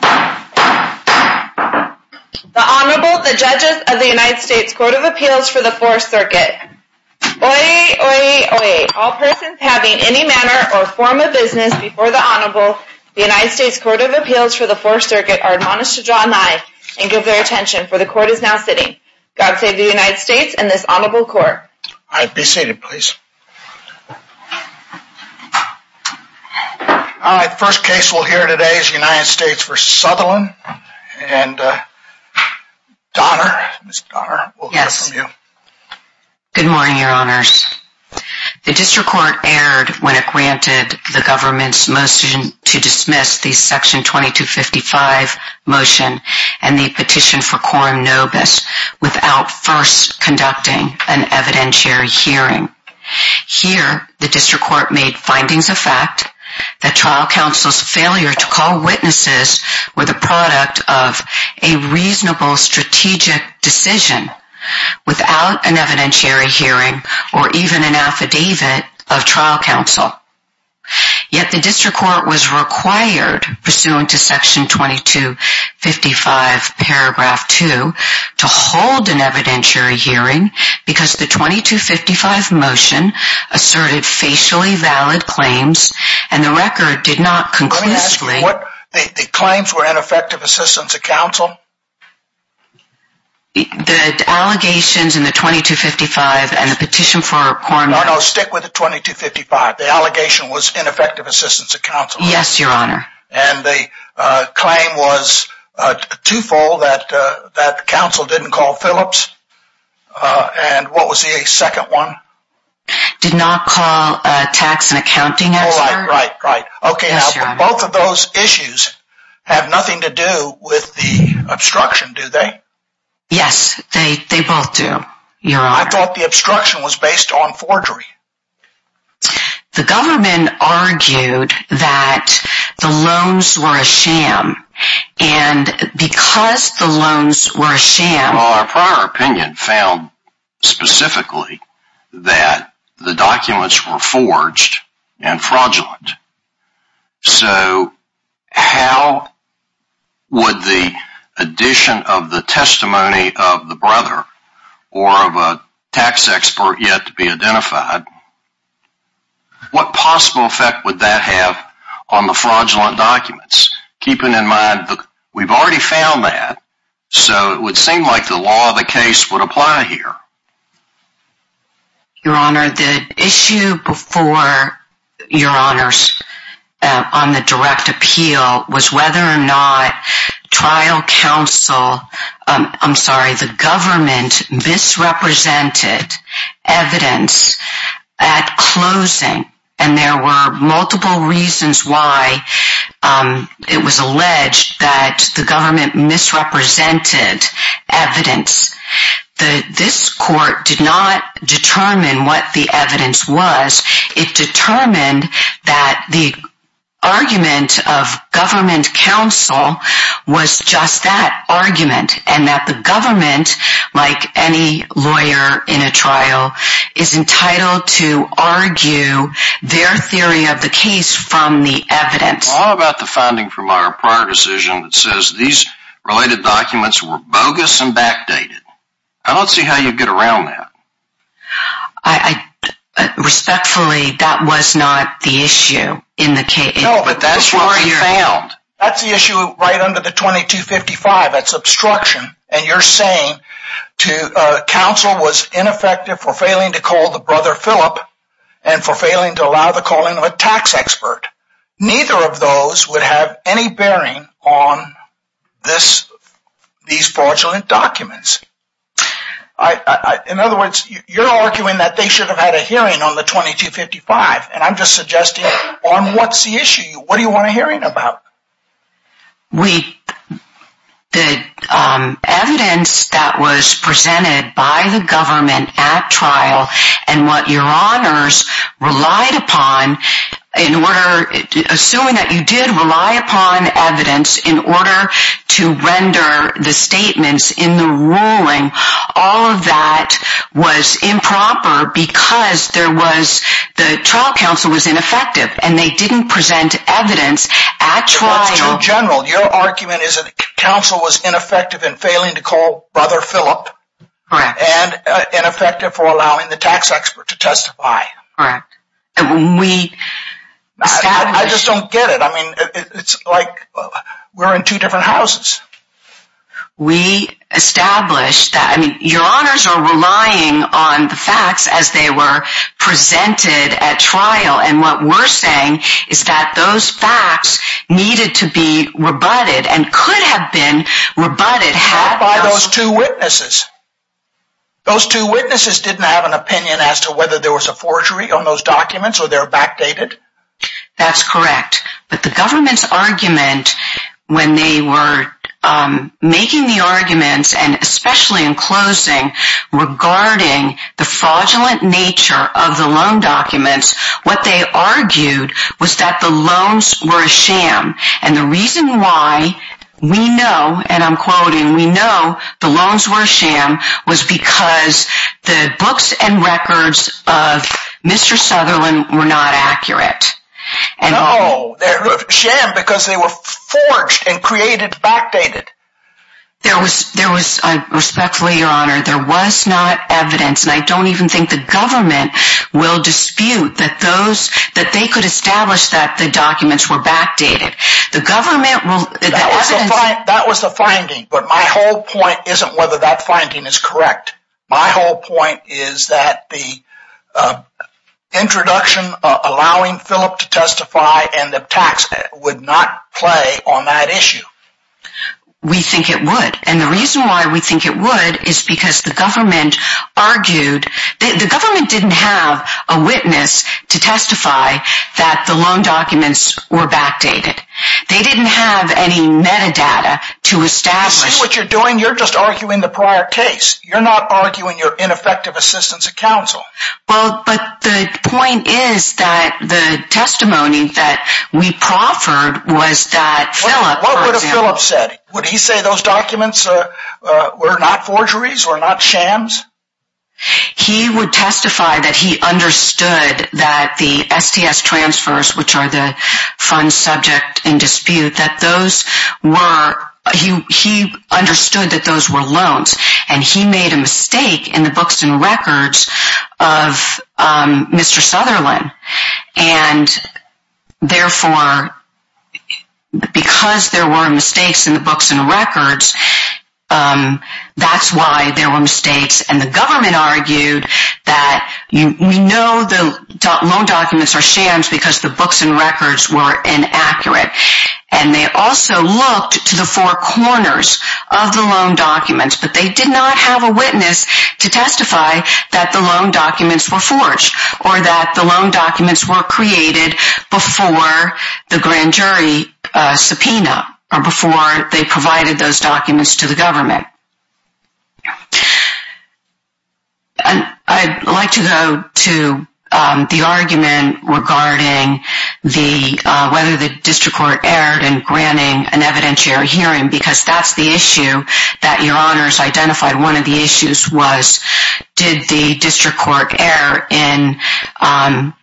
The Honorable, the Judges of the United States Court of Appeals for the Fourth Circuit. Oyez, oyez, oyez. All persons having any manner or form of business before the Honorable, the United States Court of Appeals for the Fourth Circuit, are admonished to draw an eye and give their attention, for the Court is now sitting. God save the United States and this Honorable Court. All right, be seated please. All right, the first case we'll hear today is the United States v. Sutherland and Donner, Ms. Donner, we'll hear from you. Good morning, Your Honors. The District Court erred when it granted the government's motion to dismiss the Section 2255 motion and the petition for quorum nobis without first conducting an evidentiary hearing. Here, the District Court made findings of fact that trial counsel's failure to call witnesses were the product of a reasonable strategic decision without an evidentiary hearing or even an affidavit of trial counsel. Yet, the District Court was required, pursuant to Section 2255, paragraph 2, to hold an evidentiary hearing because the 2255 motion asserted facially valid claims and the record did not conclusively... Let me ask you, the claims were ineffective assistance of counsel? The allegations in the 2255 and the petition for quorum nobis... No, no, stick with the 2255. The allegation was ineffective assistance of counsel. Yes, Your Honor. And the claim was twofold, that counsel didn't call Phillips and what was the second one? Did not call tax and accounting expert. Right, right, right. Yes, Your Honor. Okay, now both of those issues have nothing to do with the obstruction, do they? Yes, they both do, Your Honor. I thought the obstruction was based on forgery. The government argued that the loans were a sham and because the loans were a sham... So, how would the addition of the testimony of the brother or of a tax expert yet to be identified, what possible effect would that have on the fraudulent documents? Keeping in mind, we've already found that, so it would seem like the law of the case would apply here. Your Honor, the issue before, Your Honors, on the direct appeal was whether or not trial counsel... I'm sorry, the government misrepresented evidence at closing and there were multiple reasons why it was alleged that the government misrepresented evidence. This court did not determine what the evidence was. It determined that the argument of government counsel was just that argument and that the government, like any lawyer in a trial, is entitled to argue their theory of the case from the evidence. How about the finding from our prior decision that says these related documents were bogus and backdated? I don't see how you'd get around that. Respectfully, that was not the issue in the case. No, but that's what we found. That's the issue right under the 2255, that's obstruction, and you're saying counsel was ineffective for failing to call the brother, Phillip, and for failing to allow the calling of a tax expert. Neither of those would have any bearing on these fraudulent documents. In other words, you're arguing that they should have had a hearing on the 2255, and I'm just suggesting, on what's the issue? What do you want a hearing about? The evidence that was presented by the government at trial and what your honors relied upon, assuming that you did rely upon evidence in order to render the statements in the ruling, all of that was improper because the trial counsel was ineffective. And they didn't present evidence at trial. But that's too general. Your argument is that counsel was ineffective in failing to call brother, Phillip. Correct. And ineffective for allowing the tax expert to testify. Correct. I just don't get it. I mean, it's like we're in two different houses. We established that. I mean, your honors are relying on the facts as they were presented at trial, and what we're saying is that those facts needed to be rebutted and could have been rebutted. By those two witnesses. Those two witnesses didn't have an opinion as to whether there was a forgery on those documents or they're backdated. That's correct. But the government's argument when they were making the arguments, and especially in closing, regarding the fraudulent nature of the loan documents, what they argued was that the loans were a sham. And the reason why we know, and I'm quoting, we know the loans were a sham was because the books and records of Mr. Sutherland were not accurate. No, they're a sham because they were forged and created backdated. Respectfully, your honor, there was not evidence, and I don't even think the government will dispute that they could establish that the documents were backdated. That was the finding, but my whole point isn't whether that finding is correct. My whole point is that the introduction allowing Phillip to testify and the tax would not play on that issue. We think it would. And the reason why we think it would is because the government argued, the government didn't have a witness to testify that the loan documents were backdated. They didn't have any metadata to establish. You see what you're doing? You're just arguing the prior case. You're not arguing your ineffective assistance of counsel. Well, but the point is that the testimony that we proffered was that Phillip. What would have Phillip said? Would he say those documents were not forgeries or not shams? He would testify that he understood that the STS transfers, which are the fund subject in dispute, that those were, he understood that those were loans. And he made a mistake in the books and records of Mr. Sutherland. And therefore, because there were mistakes in the books and records, that's why there were mistakes. And the government argued that we know the loan documents are shams because the books and records were inaccurate. And they also looked to the four corners of the loan documents, but they did not have a witness to testify that the loan documents were forged or that the loan documents were created before the grand jury subpoena or before they provided those documents to the government. I'd like to go to the argument regarding whether the district court erred in granting an evidentiary hearing, because that's the issue that your honors identified. One of the issues was, did the district court err in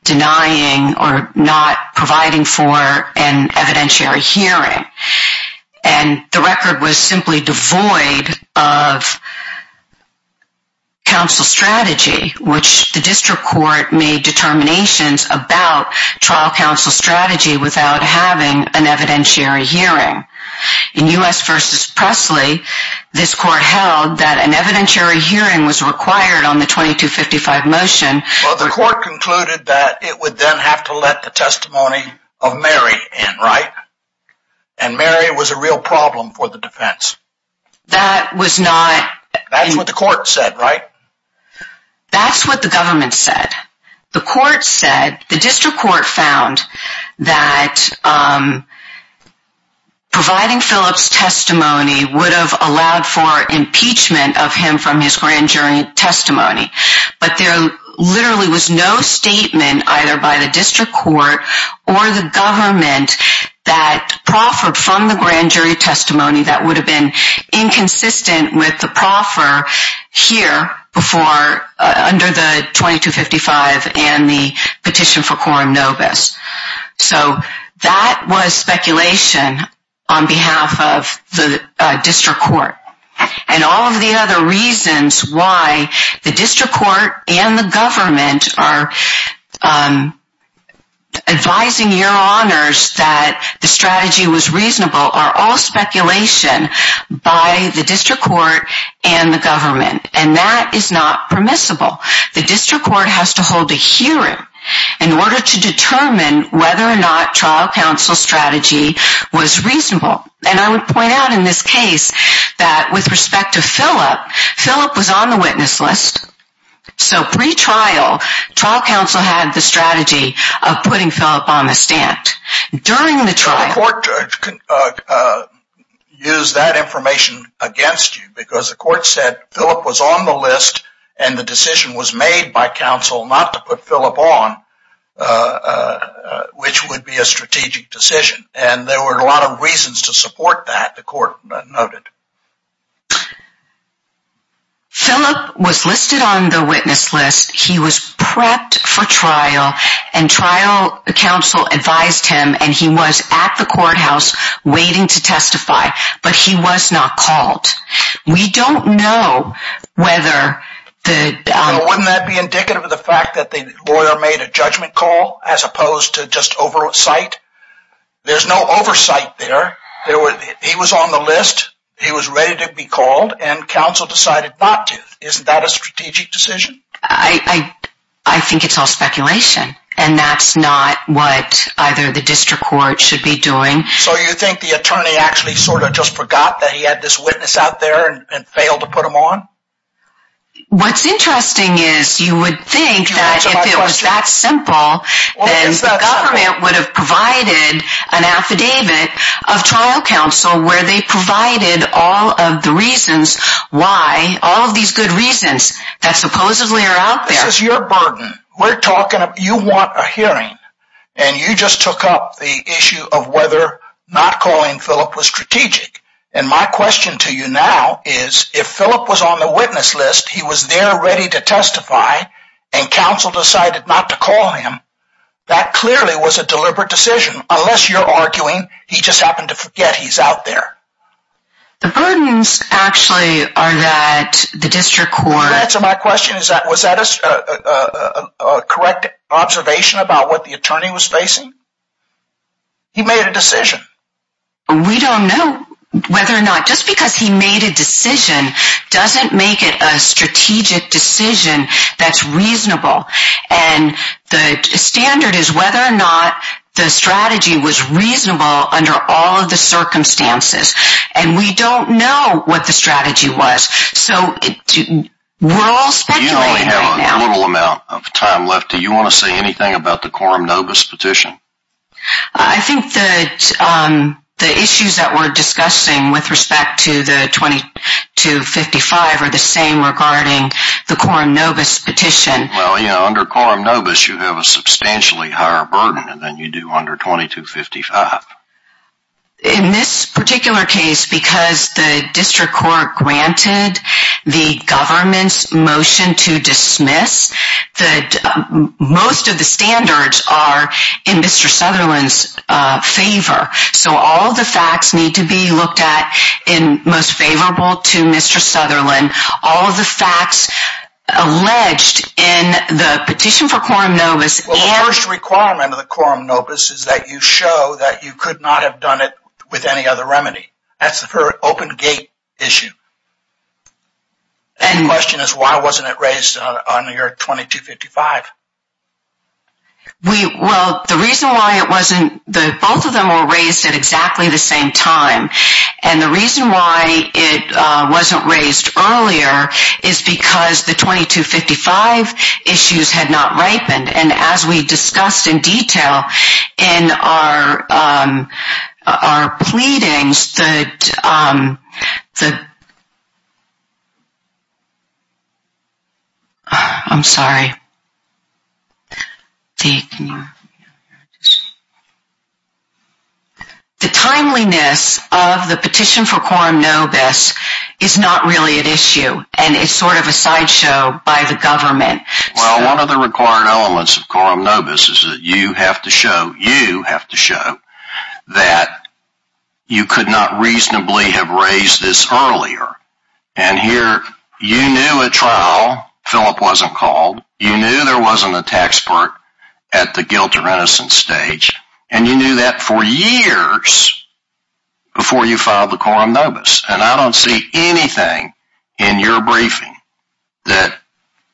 denying or not providing for an evidentiary hearing? And the record was simply devoid of counsel strategy, which the district court made determinations about trial counsel strategy without having an evidentiary hearing. In U.S. v. Presley, this court held that an evidentiary hearing was required on the 2255 motion. Well, the court concluded that it would then have to let the testimony of Mary in, right? And Mary was a real problem for the defense. That was not... That's what the court said, right? That's what the government said. The court said, the district court found that providing Phillip's testimony would have allowed for impeachment of him from his grand jury testimony. But there literally was no statement either by the district court or the government that proffered from the grand jury testimony that would have been inconsistent with the proffer here under the 2255 and the petition for quorum nobis. So that was speculation on behalf of the district court. And all of the other reasons why the district court and the government are advising your honors that the strategy was reasonable are all speculation by the district court and the government. And that is not permissible. The district court has to hold a hearing in order to determine whether or not trial counsel's strategy was reasonable. And I would point out in this case that with respect to Phillip, Phillip was on the witness list. So pre-trial, trial counsel had the strategy of putting Phillip on the stand. During the trial... Use that information against you because the court said Phillip was on the list and the decision was made by counsel not to put Phillip on, which would be a strategic decision. And there were a lot of reasons to support that, the court noted. Phillip was listed on the witness list. He was prepped for trial. And trial counsel advised him and he was at the courthouse waiting to testify. But he was not called. We don't know whether the... Wouldn't that be indicative of the fact that the lawyer made a judgment call as opposed to just oversight? There's no oversight there. He was on the list. He was ready to be called. And counsel decided not to. Isn't that a strategic decision? I think it's all speculation. And that's not what either the district court should be doing. So you think the attorney actually sort of just forgot that he had this witness out there and failed to put him on? What's interesting is you would think that if it was that simple, then the government would have provided an affidavit of trial counsel where they provided all of the reasons why, all of these good reasons that supposedly are out there. This is your burden. We're talking about... You want a hearing. And you just took up the issue of whether not calling Phillip was strategic. And my question to you now is if Phillip was on the witness list, he was there ready to testify, and counsel decided not to call him, that clearly was a deliberate decision. Unless you're arguing he just happened to forget he's out there. The burdens actually are that the district court... To answer my question, was that a correct observation about what the attorney was facing? He made a decision. We don't know whether or not... Just because he made a decision doesn't make it a strategic decision that's reasonable. And the standard is whether or not the strategy was reasonable under all of the circumstances. And we don't know what the strategy was. So we're all speculating right now. You only have a little amount of time left. Do you want to say anything about the Coram Novus petition? I think that the issues that we're discussing with respect to the 2255 are the same regarding the Coram Novus petition. Well, under Coram Novus you have a substantially higher burden than you do under 2255. In this particular case, because the district court granted the government's motion to dismiss, most of the standards are in Mr. Sutherland's favor. So all of the facts need to be looked at in most favorable to Mr. Sutherland. All of the facts alleged in the petition for Coram Novus... Well, the first requirement of the Coram Novus is that you show that you could not have done it with any other remedy. That's the open gate issue. The question is, why wasn't it raised on your 2255? Well, the reason why it wasn't... Both of them were raised at exactly the same time. And the reason why it wasn't raised earlier is because the 2255 issues had not ripened. And as we discussed in detail in our pleadings, the timeliness of the petition for Coram Novus is not really at issue. And it's sort of a sideshow by the government. Well, one of the required elements of Coram Novus is that you have to show that you could not reasonably have raised this earlier. And here, you knew a trial. Philip wasn't called. You knew there wasn't a tax part at the guilt or innocence stage. And you knew that for years before you filed the Coram Novus. And I don't see anything in your briefing that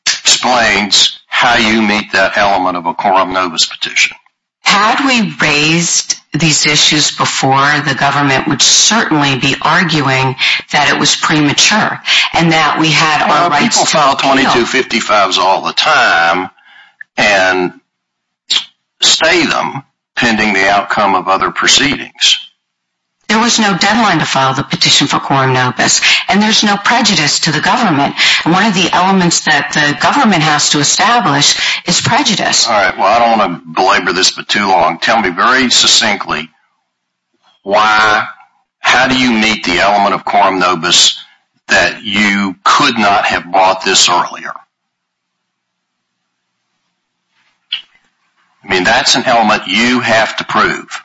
explains how you meet that element of a Coram Novus petition. Had we raised these issues before, the government would certainly be arguing that it was premature and that we had our rights to appeal. Well, people file 2255s all the time and stay them pending the outcome of other proceedings. There was no deadline to file the petition for Coram Novus. And there's no prejudice to the government. One of the elements that the government has to establish is prejudice. All right. Well, I don't want to belabor this for too long. Tell me very succinctly, how do you meet the element of Coram Novus that you could not have brought this earlier? I mean, that's an element you have to prove.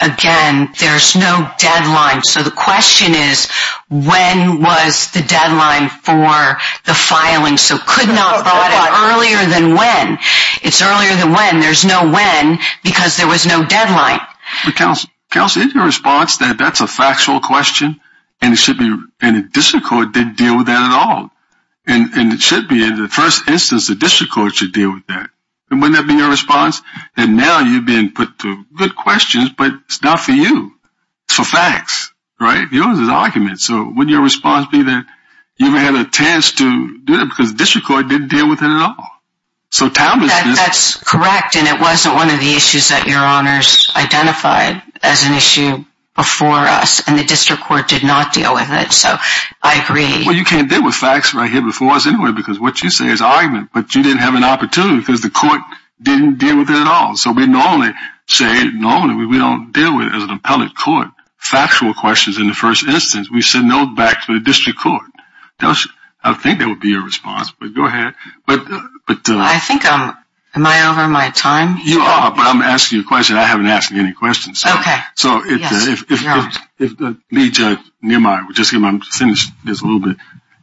Again, there's no deadline. So the question is, when was the deadline for the filing? So could not have brought it earlier than when. It's earlier than when. There's no when because there was no deadline. Counselor, isn't your response that that's a factual question and the district court didn't deal with that at all? And it should be in the first instance the district court should deal with that. And wouldn't that be your response? And now you've been put to good questions, but it's not for you. It's for facts. Right? Yours is argument. So wouldn't your response be that you haven't had a chance to do that because the district court didn't deal with it at all? That's correct. And it wasn't one of the issues that your honors identified as an issue before us. And the district court did not deal with it. So I agree. Well, you can't deal with facts right here before us anyway because what you say is argument. But you didn't have an opportunity because the court didn't deal with it at all. So we normally say we don't deal with it as an appellate court. Factual questions in the first instance. We send those back to the district court. I think that would be your response. But go ahead. I think I'm ‑‑ am I over my time? You are, but I'm asking you a question. I haven't asked you any questions. Okay. Yes, your honors. So if the lead judge, I'm just going to finish this a little bit.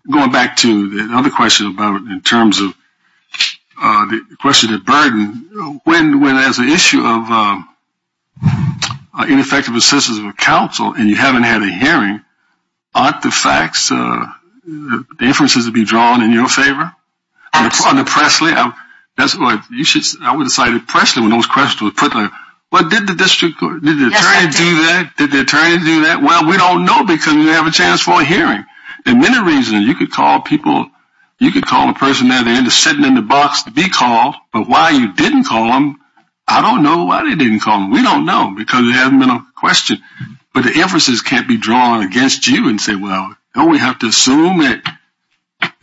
Going back to the other question about in terms of the question of burden, when there's an issue of ineffective assistance of a council and you haven't had a hearing, aren't the facts, the inferences to be drawn in your favor? On the Pressley, that's what you should say. I would have cited Pressley when those questions were put there. But did the district court, did the attorney do that? Yes, I did. Did the attorney do that? Well, we don't know because we didn't have a chance for a hearing. There are many reasons. You could call people. You could call a person there. They end up sitting in the box to be called. But why you didn't call them, I don't know why they didn't call them. We don't know because there hasn't been a question. But the inferences can't be drawn against you and say, well, don't we have to assume that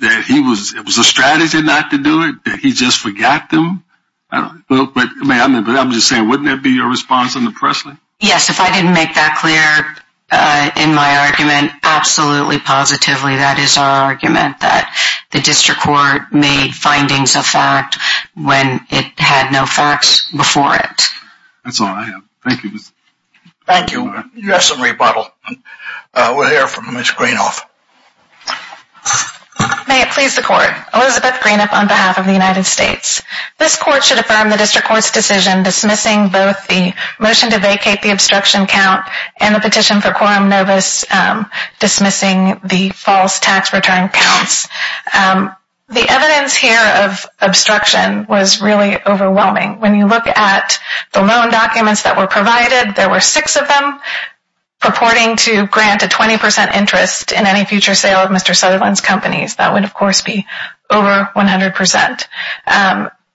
it was a strategy not to do it, that he just forgot them? But I'm just saying, wouldn't that be your response on the Pressley? Yes, if I didn't make that clear in my argument, absolutely, positively, that is our argument that the district court made findings of fact when it had no facts before it. That's all I have. Thank you. Thank you. You have some rebuttal. We'll hear from Ms. Greenoff. May it please the Court. Elizabeth Greenoff on behalf of the United States. This Court should affirm the district court's decision dismissing both the motion to vacate the obstruction count and the petition for quorum novus dismissing the false tax return counts. The evidence here of obstruction was really overwhelming. When you look at the loan documents that were provided, there were six of them purporting to grant a 20% interest in any future sale of Mr. Sutherland's companies. That would, of course, be over 100%.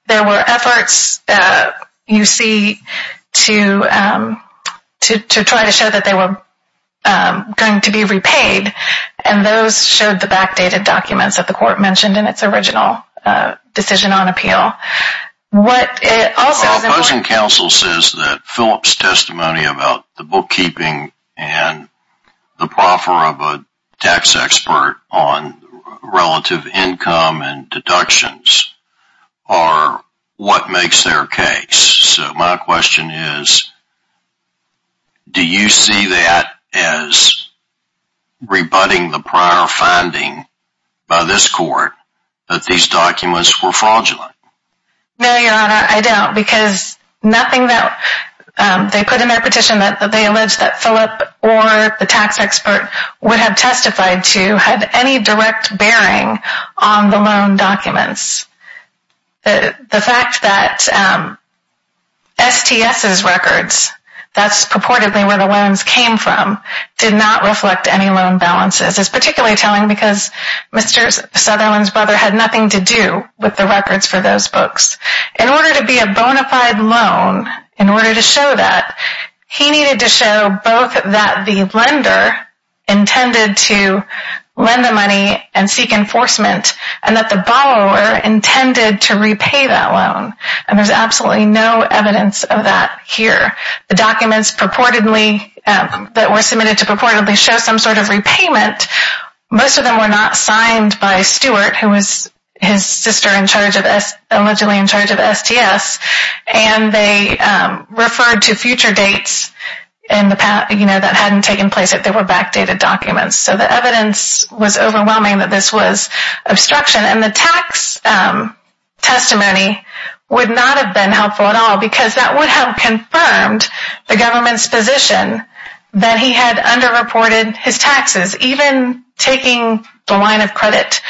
There were efforts, you see, to try to show that they were going to be repaid, and those showed the backdated documents that the Court mentioned in its original decision on appeal. Opposing counsel says that Phillip's testimony about the bookkeeping and the proffer of a tax expert on relative income and deductions are what makes their case. My question is, do you see that as rebutting the prior finding by this Court that these documents were fraudulent? No, Your Honor, I don't, because nothing that they put in their petition that they allege that Phillip or the tax expert would have testified to had any direct bearing on the loan documents. The fact that STS's records, that's purportedly where the loans came from, did not reflect any loan balances. It's particularly telling because Mr. Sutherland's brother had nothing to do with the records for those books. In order to be a bona fide loan, in order to show that, he needed to show both that the lender intended to lend the money and seek enforcement, and that the borrower intended to repay that loan, and there's absolutely no evidence of that here. The documents that were submitted to purportedly show some sort of repayment, most of them were not signed by Stewart, who was his sister allegedly in charge of STS, and they referred to future dates that hadn't taken place, that they were backdated documents. So the evidence was overwhelming that this was obstruction, and the tax testimony would not have been helpful at all, because that would have confirmed the government's position that he had underreported his taxes, even taking the line of credit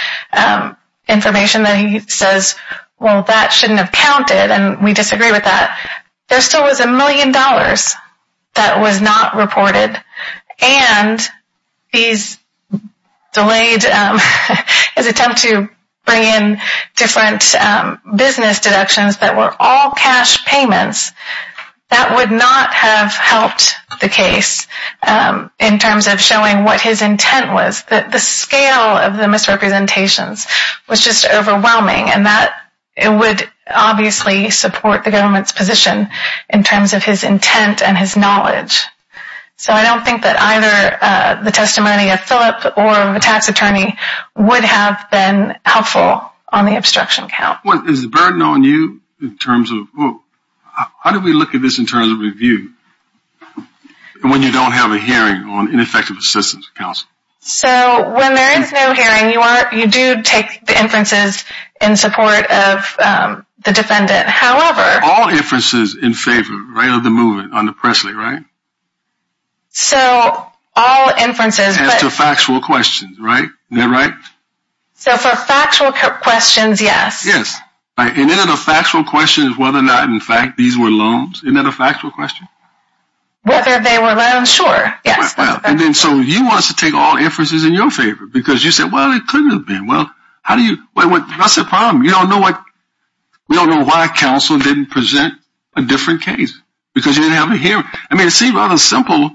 information that he says, well, that shouldn't have counted, and we disagree with that. There still was a million dollars that was not reported, and his attempt to bring in different business deductions that were all cash payments, that would not have helped the case in terms of showing what his intent was. The scale of the misrepresentations was just overwhelming, and that would obviously support the government's position in terms of his intent and his knowledge. So I don't think that either the testimony of Phillip or of a tax attorney would have been helpful on the obstruction count. Is the burden on you in terms of, how do we look at this in terms of review, when you don't have a hearing on ineffective assistance of counsel? So when there is no hearing, you do take the inferences in support of the defendant. All inferences in favor of the movement under Presley, right? So all inferences. As to factual questions, right? So for factual questions, yes. Yes. And then the factual question is whether or not, in fact, these were loans. Isn't that a factual question? Whether they were loans, sure. So you want us to take all inferences in your favor, because you said, well, it couldn't have been. That's the problem. We don't know why counsel didn't present a different case, because you didn't have a hearing. I mean, it seems rather simple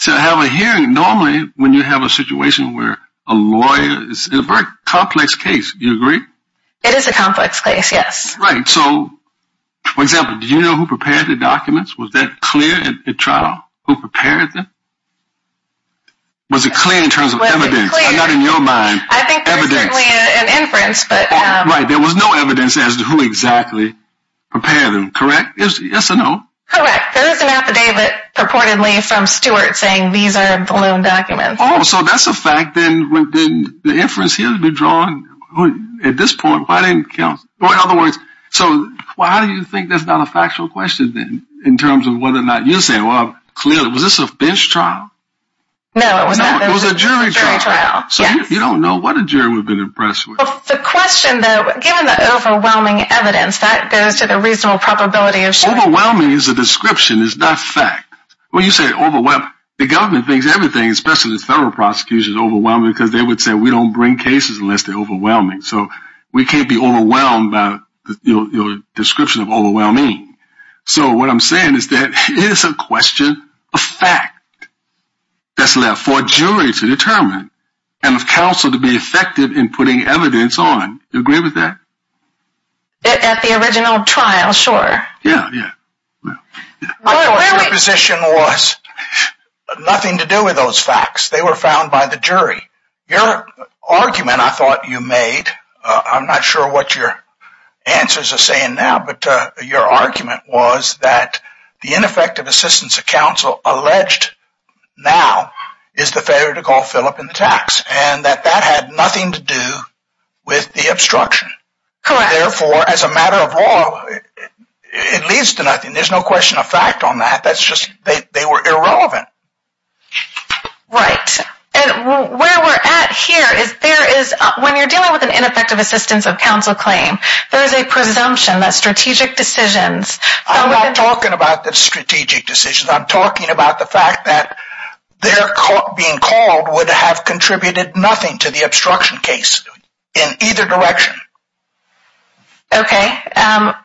to have a hearing normally when you have a situation where a lawyer is in a very complex case. Do you agree? It is a complex case, yes. Right. So, for example, do you know who prepared the documents? Was that clear at trial, who prepared them? Was it clear in terms of evidence? Not in your mind. I think there's certainly an inference. Right. There was no evidence as to who exactly prepared them, correct? Yes or no? Correct. There is an affidavit purportedly from Stewart saying these are the loan documents. Oh, so that's a fact. Then the inference here would be drawn at this point. Why didn't counsel? In other words, so why do you think that's not a factual question then in terms of whether or not you're saying, well, clearly. Was this a bench trial? No, it was not. It was a jury trial. So you don't know what a jury would have been impressed with. The question, though, given the overwhelming evidence, that goes to the reasonable probability of surety. Overwhelming is a description. It's not fact. When you say overwhelmed, the government thinks everything, especially the federal prosecution, is overwhelming because they would say we don't bring cases unless they're overwhelming. So we can't be overwhelmed by your description of overwhelming. So what I'm saying is that it is a question of fact that's left for a jury to determine and for counsel to be effective in putting evidence on. Do you agree with that? At the original trial, sure. Yeah, yeah. My position was nothing to do with those facts. They were found by the jury. Your argument I thought you made, I'm not sure what your answers are saying now, but your argument was that the ineffective assistance of counsel alleged now is the failure to call Philip in the tax and that that had nothing to do with the obstruction. Correct. Therefore, as a matter of law, it leads to nothing. There's no question of fact on that. That's just they were irrelevant. Right. And where we're at here is there is when you're dealing with an ineffective assistance of counsel claim, there is a presumption that strategic decisions. I'm not talking about the strategic decisions. I'm talking about the fact that they're being called would have contributed nothing to the obstruction case in either direction. Okay.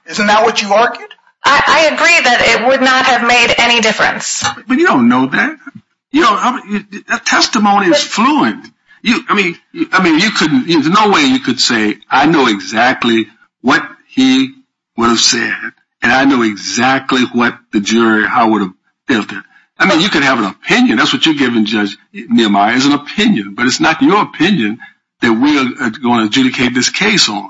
Isn't that what you argued? I agree that it would not have made any difference. But you don't know that. That testimony is fluent. I mean, there's no way you could say I know exactly what he would have said and I know exactly what the jury I would have felt it. I mean, you could have an opinion. That's what you're giving Judge Nehemiah is an opinion, but it's not your opinion that we're going to adjudicate this case on.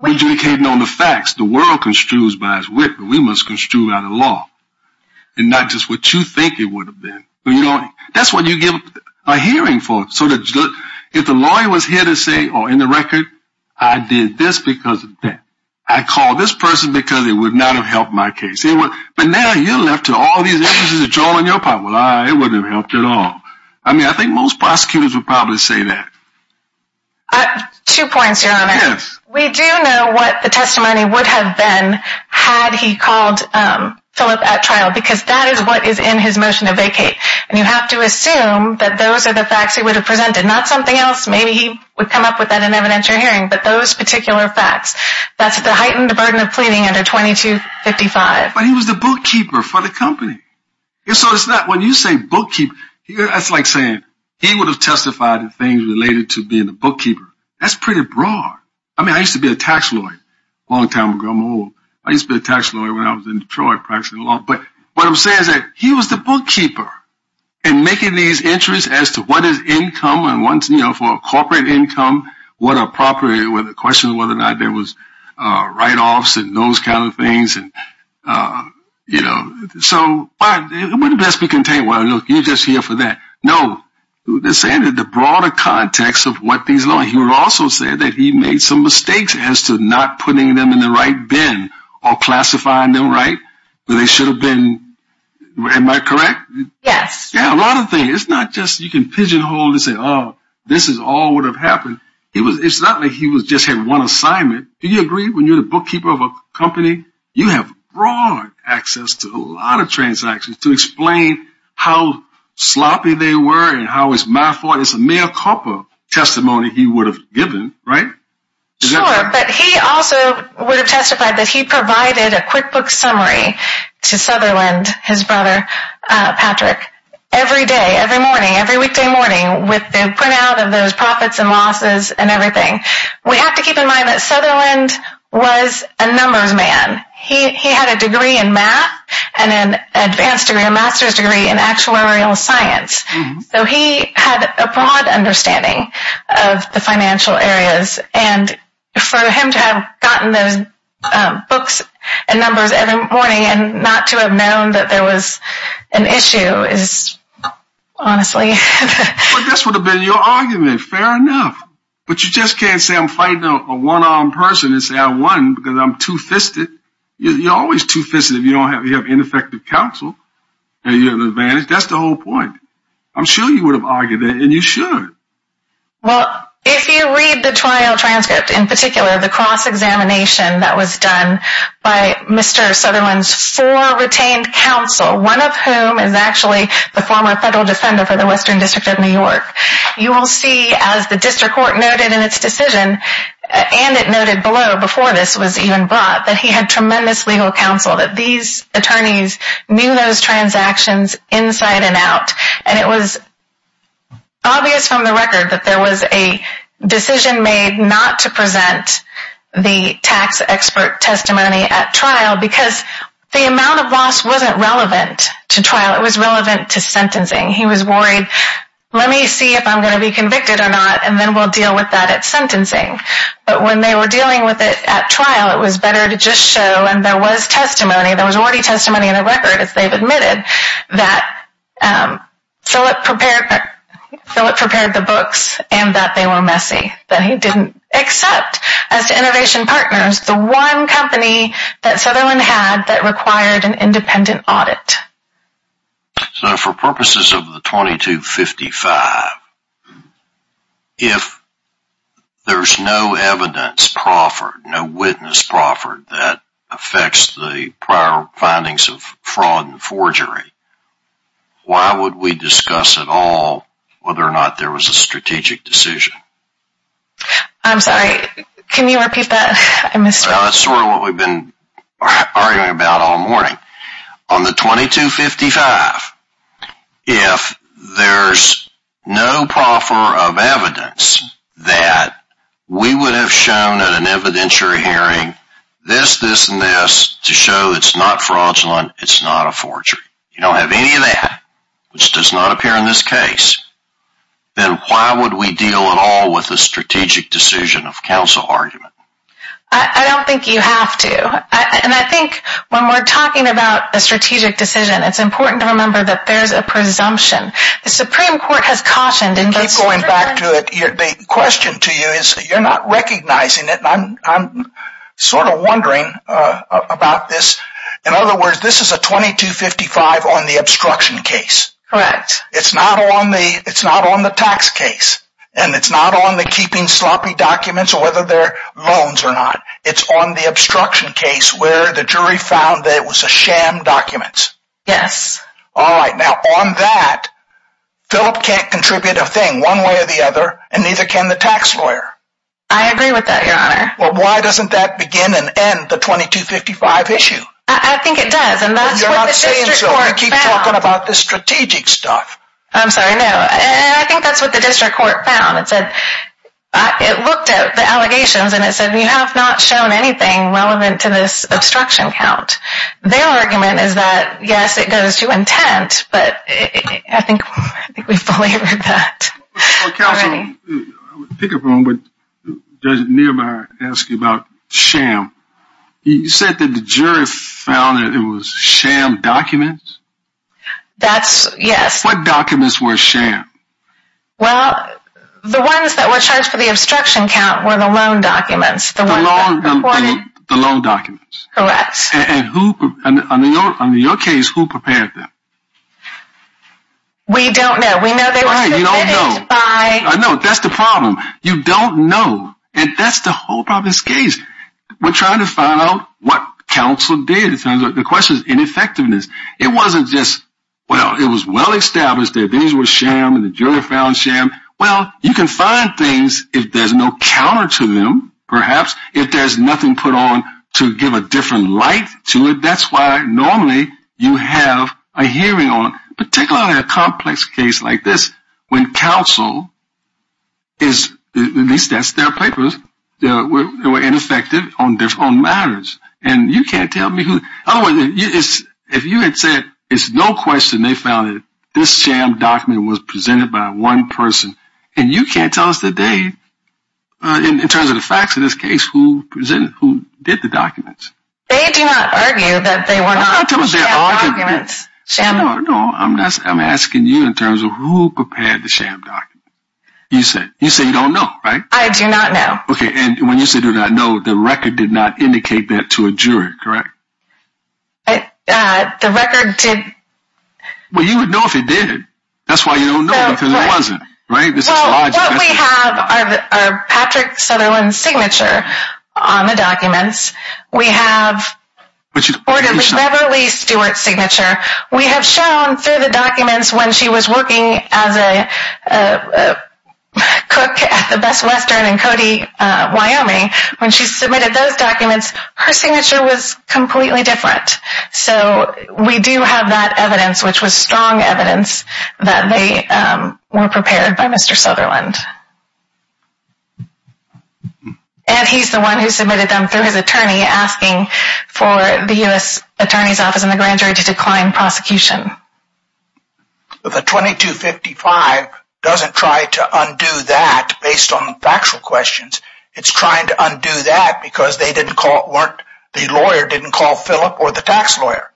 We're adjudicating on the facts. The world construes by its wit, but we must construe by the law. And not just what you think it would have been. That's what you give a hearing for. If the lawyer was here to say, in the record, I did this because of that. I called this person because it would not have helped my case. But now you're left to all these evidence that's drawn on your part. Well, it wouldn't have helped at all. I mean, I think most prosecutors would probably say that. Two points, Your Honor. Yes. We do know what the testimony would have been had he called Philip at trial, because that is what is in his motion to vacate. And you have to assume that those are the facts he would have presented, not something else. Maybe he would come up with that in evidence or hearing, but those particular facts. That's the heightened burden of pleading under 2255. But he was the bookkeeper for the company. And so it's not when you say bookkeeper, that's like saying he would have testified in things related to being the bookkeeper. That's pretty broad. I mean, I used to be a tax lawyer a long time ago. I'm old. I used to be a tax lawyer when I was in Detroit practicing law. But what I'm saying is that he was the bookkeeper in making these entries as to what is income and, you know, for corporate income, what are property, whether the question of whether or not there was write-offs and those kind of things. And, you know, so it wouldn't best be contained. Well, look, you're just here for that. No. They're saying that the broader context of what these are. He would also say that he made some mistakes as to not putting them in the right bin or classifying them right. They should have been. Am I correct? Yes. Yeah, a lot of things. It's not just you can pigeonhole and say, oh, this is all what would have happened. It's not like he just had one assignment. Do you agree when you're the bookkeeper of a company, you have broad access to a lot of transactions to explain how sloppy they were and how it's my fault is a mere copper testimony he would have given. Right. But he also would have testified that he provided a QuickBooks summary to Sutherland, his brother, Patrick, every day, every morning, every weekday morning with the printout of those profits and losses and everything. We have to keep in mind that Sutherland was a numbers man. He had a degree in math and an advanced degree, a master's degree in actuarial science. So he had a broad understanding of the financial areas. And for him to have gotten those books and numbers every morning and not to have known that there was an issue is honestly. But this would have been your argument. Fair enough. But you just can't say I'm fighting a one-armed person and say I won because I'm two-fisted. You're always two-fisted if you don't have ineffective counsel and you have an advantage. That's the whole point. I'm sure you would have argued it, and you should. Well, if you read the trial transcript in particular, the cross-examination that was done by Mr. Sutherland's four retained counsel, one of whom is actually the former federal defender for the Western District of New York, you will see as the district court noted in its decision, and it noted below before this was even brought, that he had tremendous legal counsel, that these attorneys knew those transactions inside and out. And it was obvious from the record that there was a decision made not to present the tax expert testimony at trial because the amount of loss wasn't relevant to trial. It was relevant to sentencing. He was worried, let me see if I'm going to be convicted or not, and then we'll deal with that at sentencing. But when they were dealing with it at trial, it was better to just show, and there was testimony, there was already testimony in the record, as they've admitted, that Philip prepared the books and that they were messy, that he didn't accept as to Innovation Partners, the one company that Sutherland had that required an independent audit. So for purposes of the 2255, if there's no evidence proffered, no witness proffered that affects the prior findings of fraud and forgery, why would we discuss at all whether or not there was a strategic decision? I'm sorry, can you repeat that? That's sort of what we've been arguing about all morning. On the 2255, if there's no proffer of evidence that we would have shown at an evidentiary hearing, this, this, and this, to show it's not fraudulent, it's not a forgery, you don't have any of that, which does not appear in this case, then why would we deal at all with the strategic decision of counsel argument? I don't think you have to. And I think when we're talking about a strategic decision, it's important to remember that there's a presumption. The Supreme Court has cautioned. I keep going back to it. The question to you is, you're not recognizing it. I'm sort of wondering about this. In other words, this is a 2255 on the obstruction case. Correct. It's not on the tax case. And it's not on the keeping sloppy documents or whether they're loans or not. It's on the obstruction case where the jury found that it was a sham documents. Yes. All right. Now, on that, Philip can't contribute a thing one way or the other, and neither can the tax lawyer. I agree with that, Your Honor. Well, why doesn't that begin and end the 2255 issue? I think it does. And that's what the district court found. You're not saying so. You keep talking about the strategic stuff. I'm sorry. No. I think that's what the district court found. It looked at the allegations and it said, you have not shown anything relevant to this obstruction count. Their argument is that, yes, it goes to intent, but I think we fully heard that. Counsel, I would pick up on what Judge Niemeyer asked you about sham. He said that the jury found that it was sham documents. That's, yes. What documents were sham? Well, the ones that were charged for the obstruction count were the loan documents. The loan documents. Correct. And on your case, who prepared them? We don't know. We know they were submitted by. I know. That's the problem. You don't know. And that's the whole problem of this case. We're trying to find out what counsel did. The question is ineffectiveness. It wasn't just, well, it was well-established that these were sham and the jury found sham. Well, you can find things if there's no counter to them, perhaps. If there's nothing put on to give a different light to it, that's why normally you have a hearing on it. Particularly in a complex case like this when counsel is, at least that's their papers, were ineffective on matters. And you can't tell me who. Otherwise, if you had said it's no question they found that this sham document was presented by one person, and you can't tell us today in terms of the facts of this case who did the documents. They do not argue that they were not sham documents. No, I'm asking you in terms of who prepared the sham document. You say you don't know, right? I do not know. Okay, and when you say you do not know, the record did not indicate that to a juror, correct? The record did. Well, you would know if it did. That's why you don't know because it wasn't, right? Well, what we have are Patrick Sutherland's signature on the documents. We have Orderly Beverly Stewart's signature. We have shown through the documents when she was working as a cook at the Best Western in Cody, Wyoming, when she submitted those documents, her signature was completely different. So we do have that evidence, which was strong evidence that they were prepared by Mr. Sutherland. And he's the one who submitted them through his attorney asking for the U.S. Attorney's Office and the Grand Jury to decline prosecution. The 2255 doesn't try to undo that based on factual questions. It's trying to undo that because the lawyer didn't call Philip or the tax lawyer.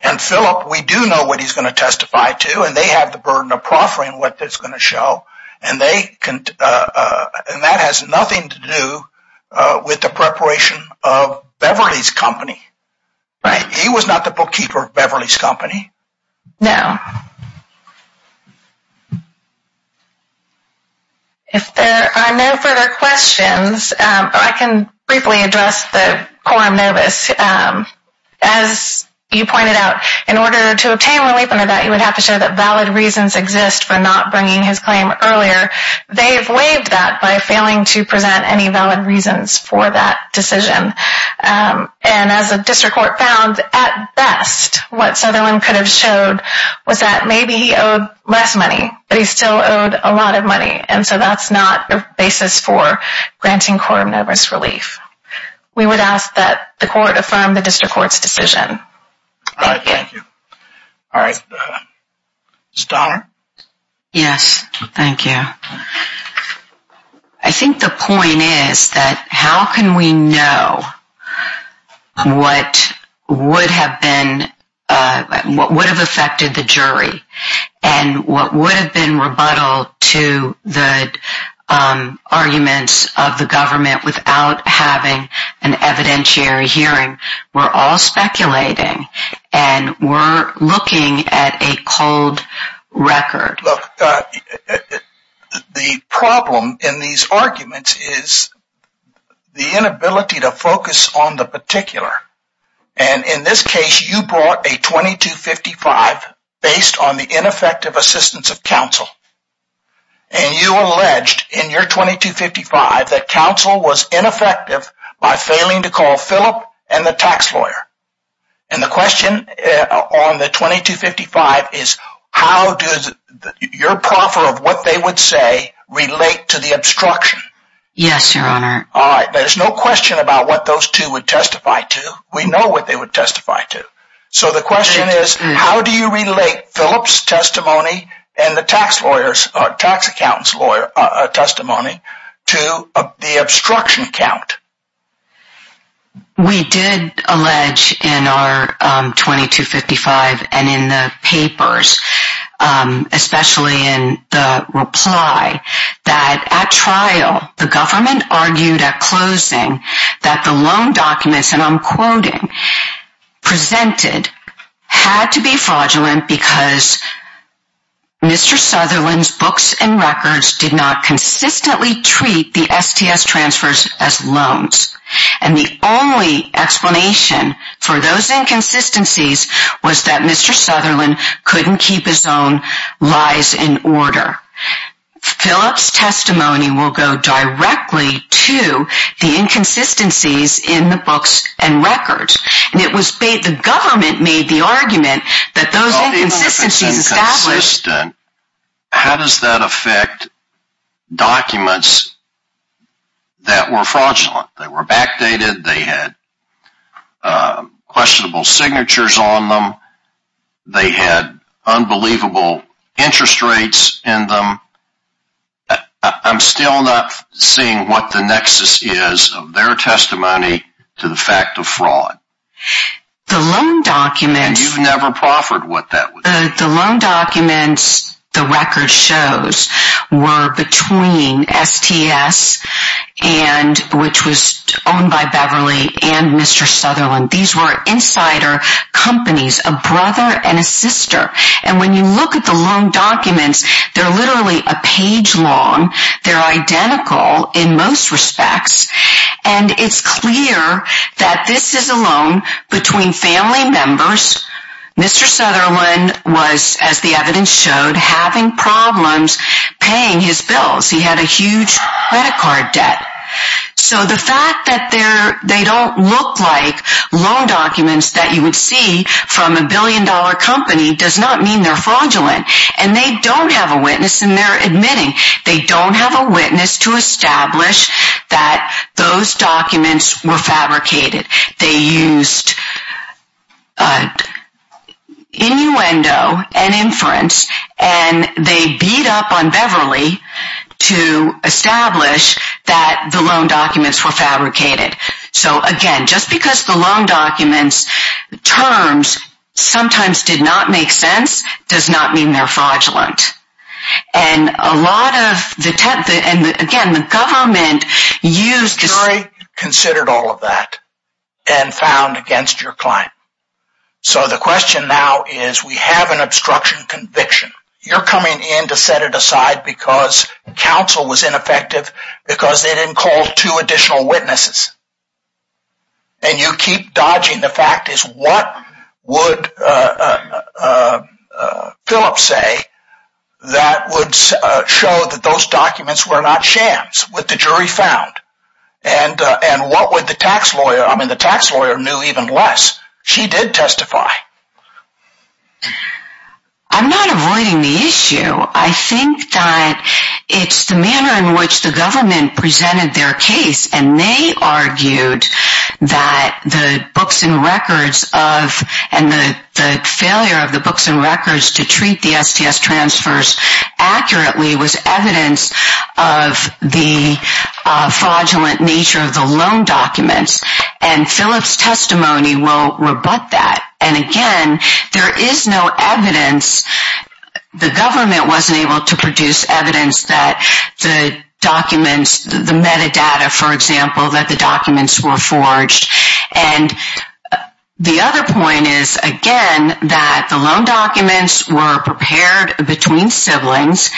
And Philip, we do know what he's going to testify to, and they have the burden of proffering what that's going to show. And that has nothing to do with the preparation of Beverly's company. He was not the bookkeeper of Beverly's company. No. If there are no further questions, I can briefly address the quorum notice. As you pointed out, in order to obtain relief under that, you would have to show that valid reasons exist for not bringing his claim earlier. They have waived that by failing to present any valid reasons for that decision. And as the district court found, at best, what Sutherland could have showed was that maybe he owed less money, but he still owed a lot of money. And so that's not the basis for granting quorum notice relief. We would ask that the court affirm the district court's decision. All right. Thank you. All right. Ms. Donner? Yes. Thank you. I think the point is that how can we know what would have been, what would have affected the jury, and what would have been rebuttal to the arguments of the government without having an evidentiary hearing. We're all speculating, and we're looking at a cold record. Look, the problem in these arguments is the inability to focus on the particular. And in this case, you brought a 2255 based on the ineffective assistance of counsel. And you alleged in your 2255 that counsel was ineffective by failing to call Philip and the tax lawyer. And the question on the 2255 is how does your proffer of what they would say relate to the obstruction? Yes, Your Honor. All right. There's no question about what those two would testify to. We know what they would testify to. So the question is how do you relate Philip's testimony and the tax lawyer's or tax accountant's testimony to the obstruction count? We did allege in our 2255 and in the papers, especially in the reply, that at trial the government argued at closing that the loan documents, and I'm quoting, presented had to be fraudulent because Mr. Sutherland's books and records did not consistently treat the STS transfers as loans. And the only explanation for those inconsistencies was that Mr. Sutherland couldn't keep his own lies in order. Philip's testimony will go directly to the inconsistencies in the books and records. The government made the argument that those inconsistencies established How does that affect documents that were fraudulent? They were backdated. They had questionable signatures on them. They had unbelievable interest rates in them. I'm still not seeing what the nexus is of their testimony to the fact of fraud. The loan documents And you've never proffered what that was. The loan documents, the records shows, were between STS, which was owned by Beverly, and Mr. Sutherland. These were insider companies, a brother and a sister. And when you look at the loan documents, they're literally a page long. They're identical in most respects. And it's clear that this is a loan between family members. Mr. Sutherland was, as the evidence showed, having problems paying his bills. He had a huge credit card debt. So the fact that they don't look like loan documents that you would see from a billion dollar company does not mean they're fraudulent. And they don't have a witness. And they're admitting they don't have a witness to establish that those documents were fabricated. They used innuendo and inference. And they beat up on Beverly to establish that the loan documents were fabricated. So again, just because the loan documents' terms sometimes did not make sense does not mean they're fraudulent. And again, the government used The jury considered all of that and found against your client. So the question now is we have an obstruction conviction. You're coming in to set it aside because counsel was ineffective because they didn't call two additional witnesses. And you keep dodging the fact is what would Phillip say that would show that those documents were not shams with the jury found. And what would the tax lawyer, I mean the tax lawyer knew even less. She did testify. I'm not avoiding the issue. I think that it's the manner in which the government presented their case. And they argued that the books and records of and the failure of the books and records to treat the STS transfers accurately was evidence of the fraudulent nature of the loan documents. And Phillip's testimony will rebut that. And again, there is no evidence. The government wasn't able to produce evidence that the documents, the metadata, for example, that the documents were forged. And the other point is, again, that the loan documents were prepared between siblings.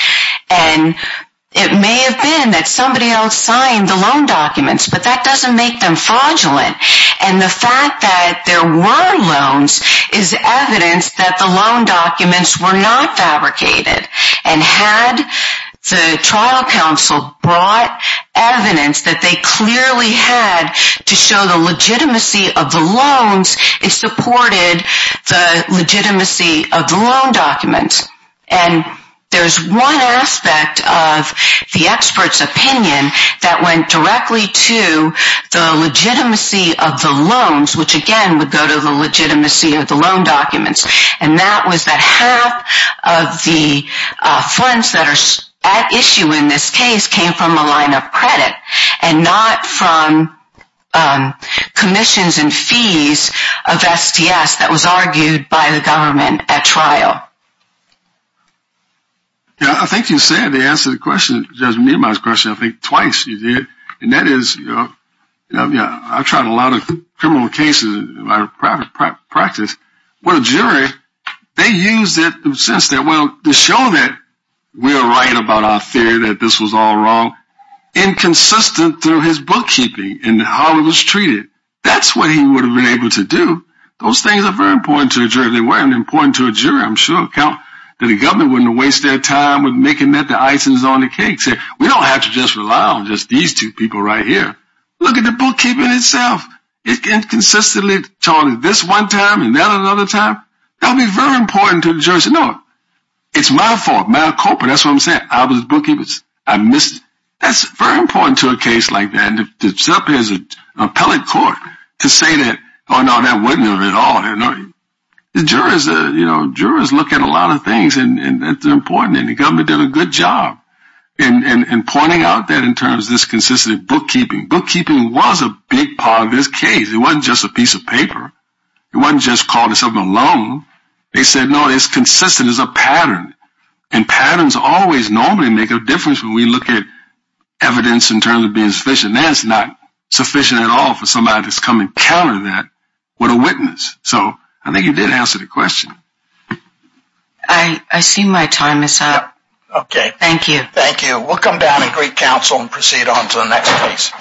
And it may have been that somebody else signed the loan documents, but that doesn't make them fraudulent. And the fact that there were loans is evidence that the loan documents were not fabricated. And had the trial counsel brought evidence that they clearly had to show the legitimacy of the loans, it supported the legitimacy of the loan documents. And there's one aspect of the expert's opinion that went directly to the legitimacy of the loans, which again would go to the legitimacy of the loan documents. And that was that half of the funds that are at issue in this case came from a line of credit and not from commissions and fees of STS that was argued by the government at trial. Yeah, I think you said to answer the question, Judge Nima's question, I think twice you did. And that is, you know, I've tried a lot of criminal cases in my private practice. When a jury, they use that sense that, well, to show that we're right about our theory that this was all wrong, inconsistent through his bookkeeping and how it was treated. That's what he would have been able to do. Those things are very important to a jury. I'm sure that the government wouldn't waste their time with making that the icing on the cake. We don't have to just rely on just these two people right here. Look at the bookkeeping itself. It can consistently charge this one time and that another time. That would be very important to the jury. No, it's my fault, my culprit. That's what I'm saying. I was bookkeeping. I missed. That's very important to a case like that. It's up to the appellate court to say that, oh, no, that wasn't it at all. The jurors look at a lot of things, and that's important, and the government did a good job in pointing out that in terms of this consistent bookkeeping. Bookkeeping was a big part of this case. It wasn't just a piece of paper. It wasn't just called something alone. They said, no, it's consistent. It's a pattern, and patterns always normally make a difference when we look at evidence in terms of being sufficient. And that's not sufficient at all for somebody to come and counter that with a witness. So I think you did answer the question. I see my time is up. Okay. Thank you. Thank you. We'll come down and greet counsel and proceed on to the next case.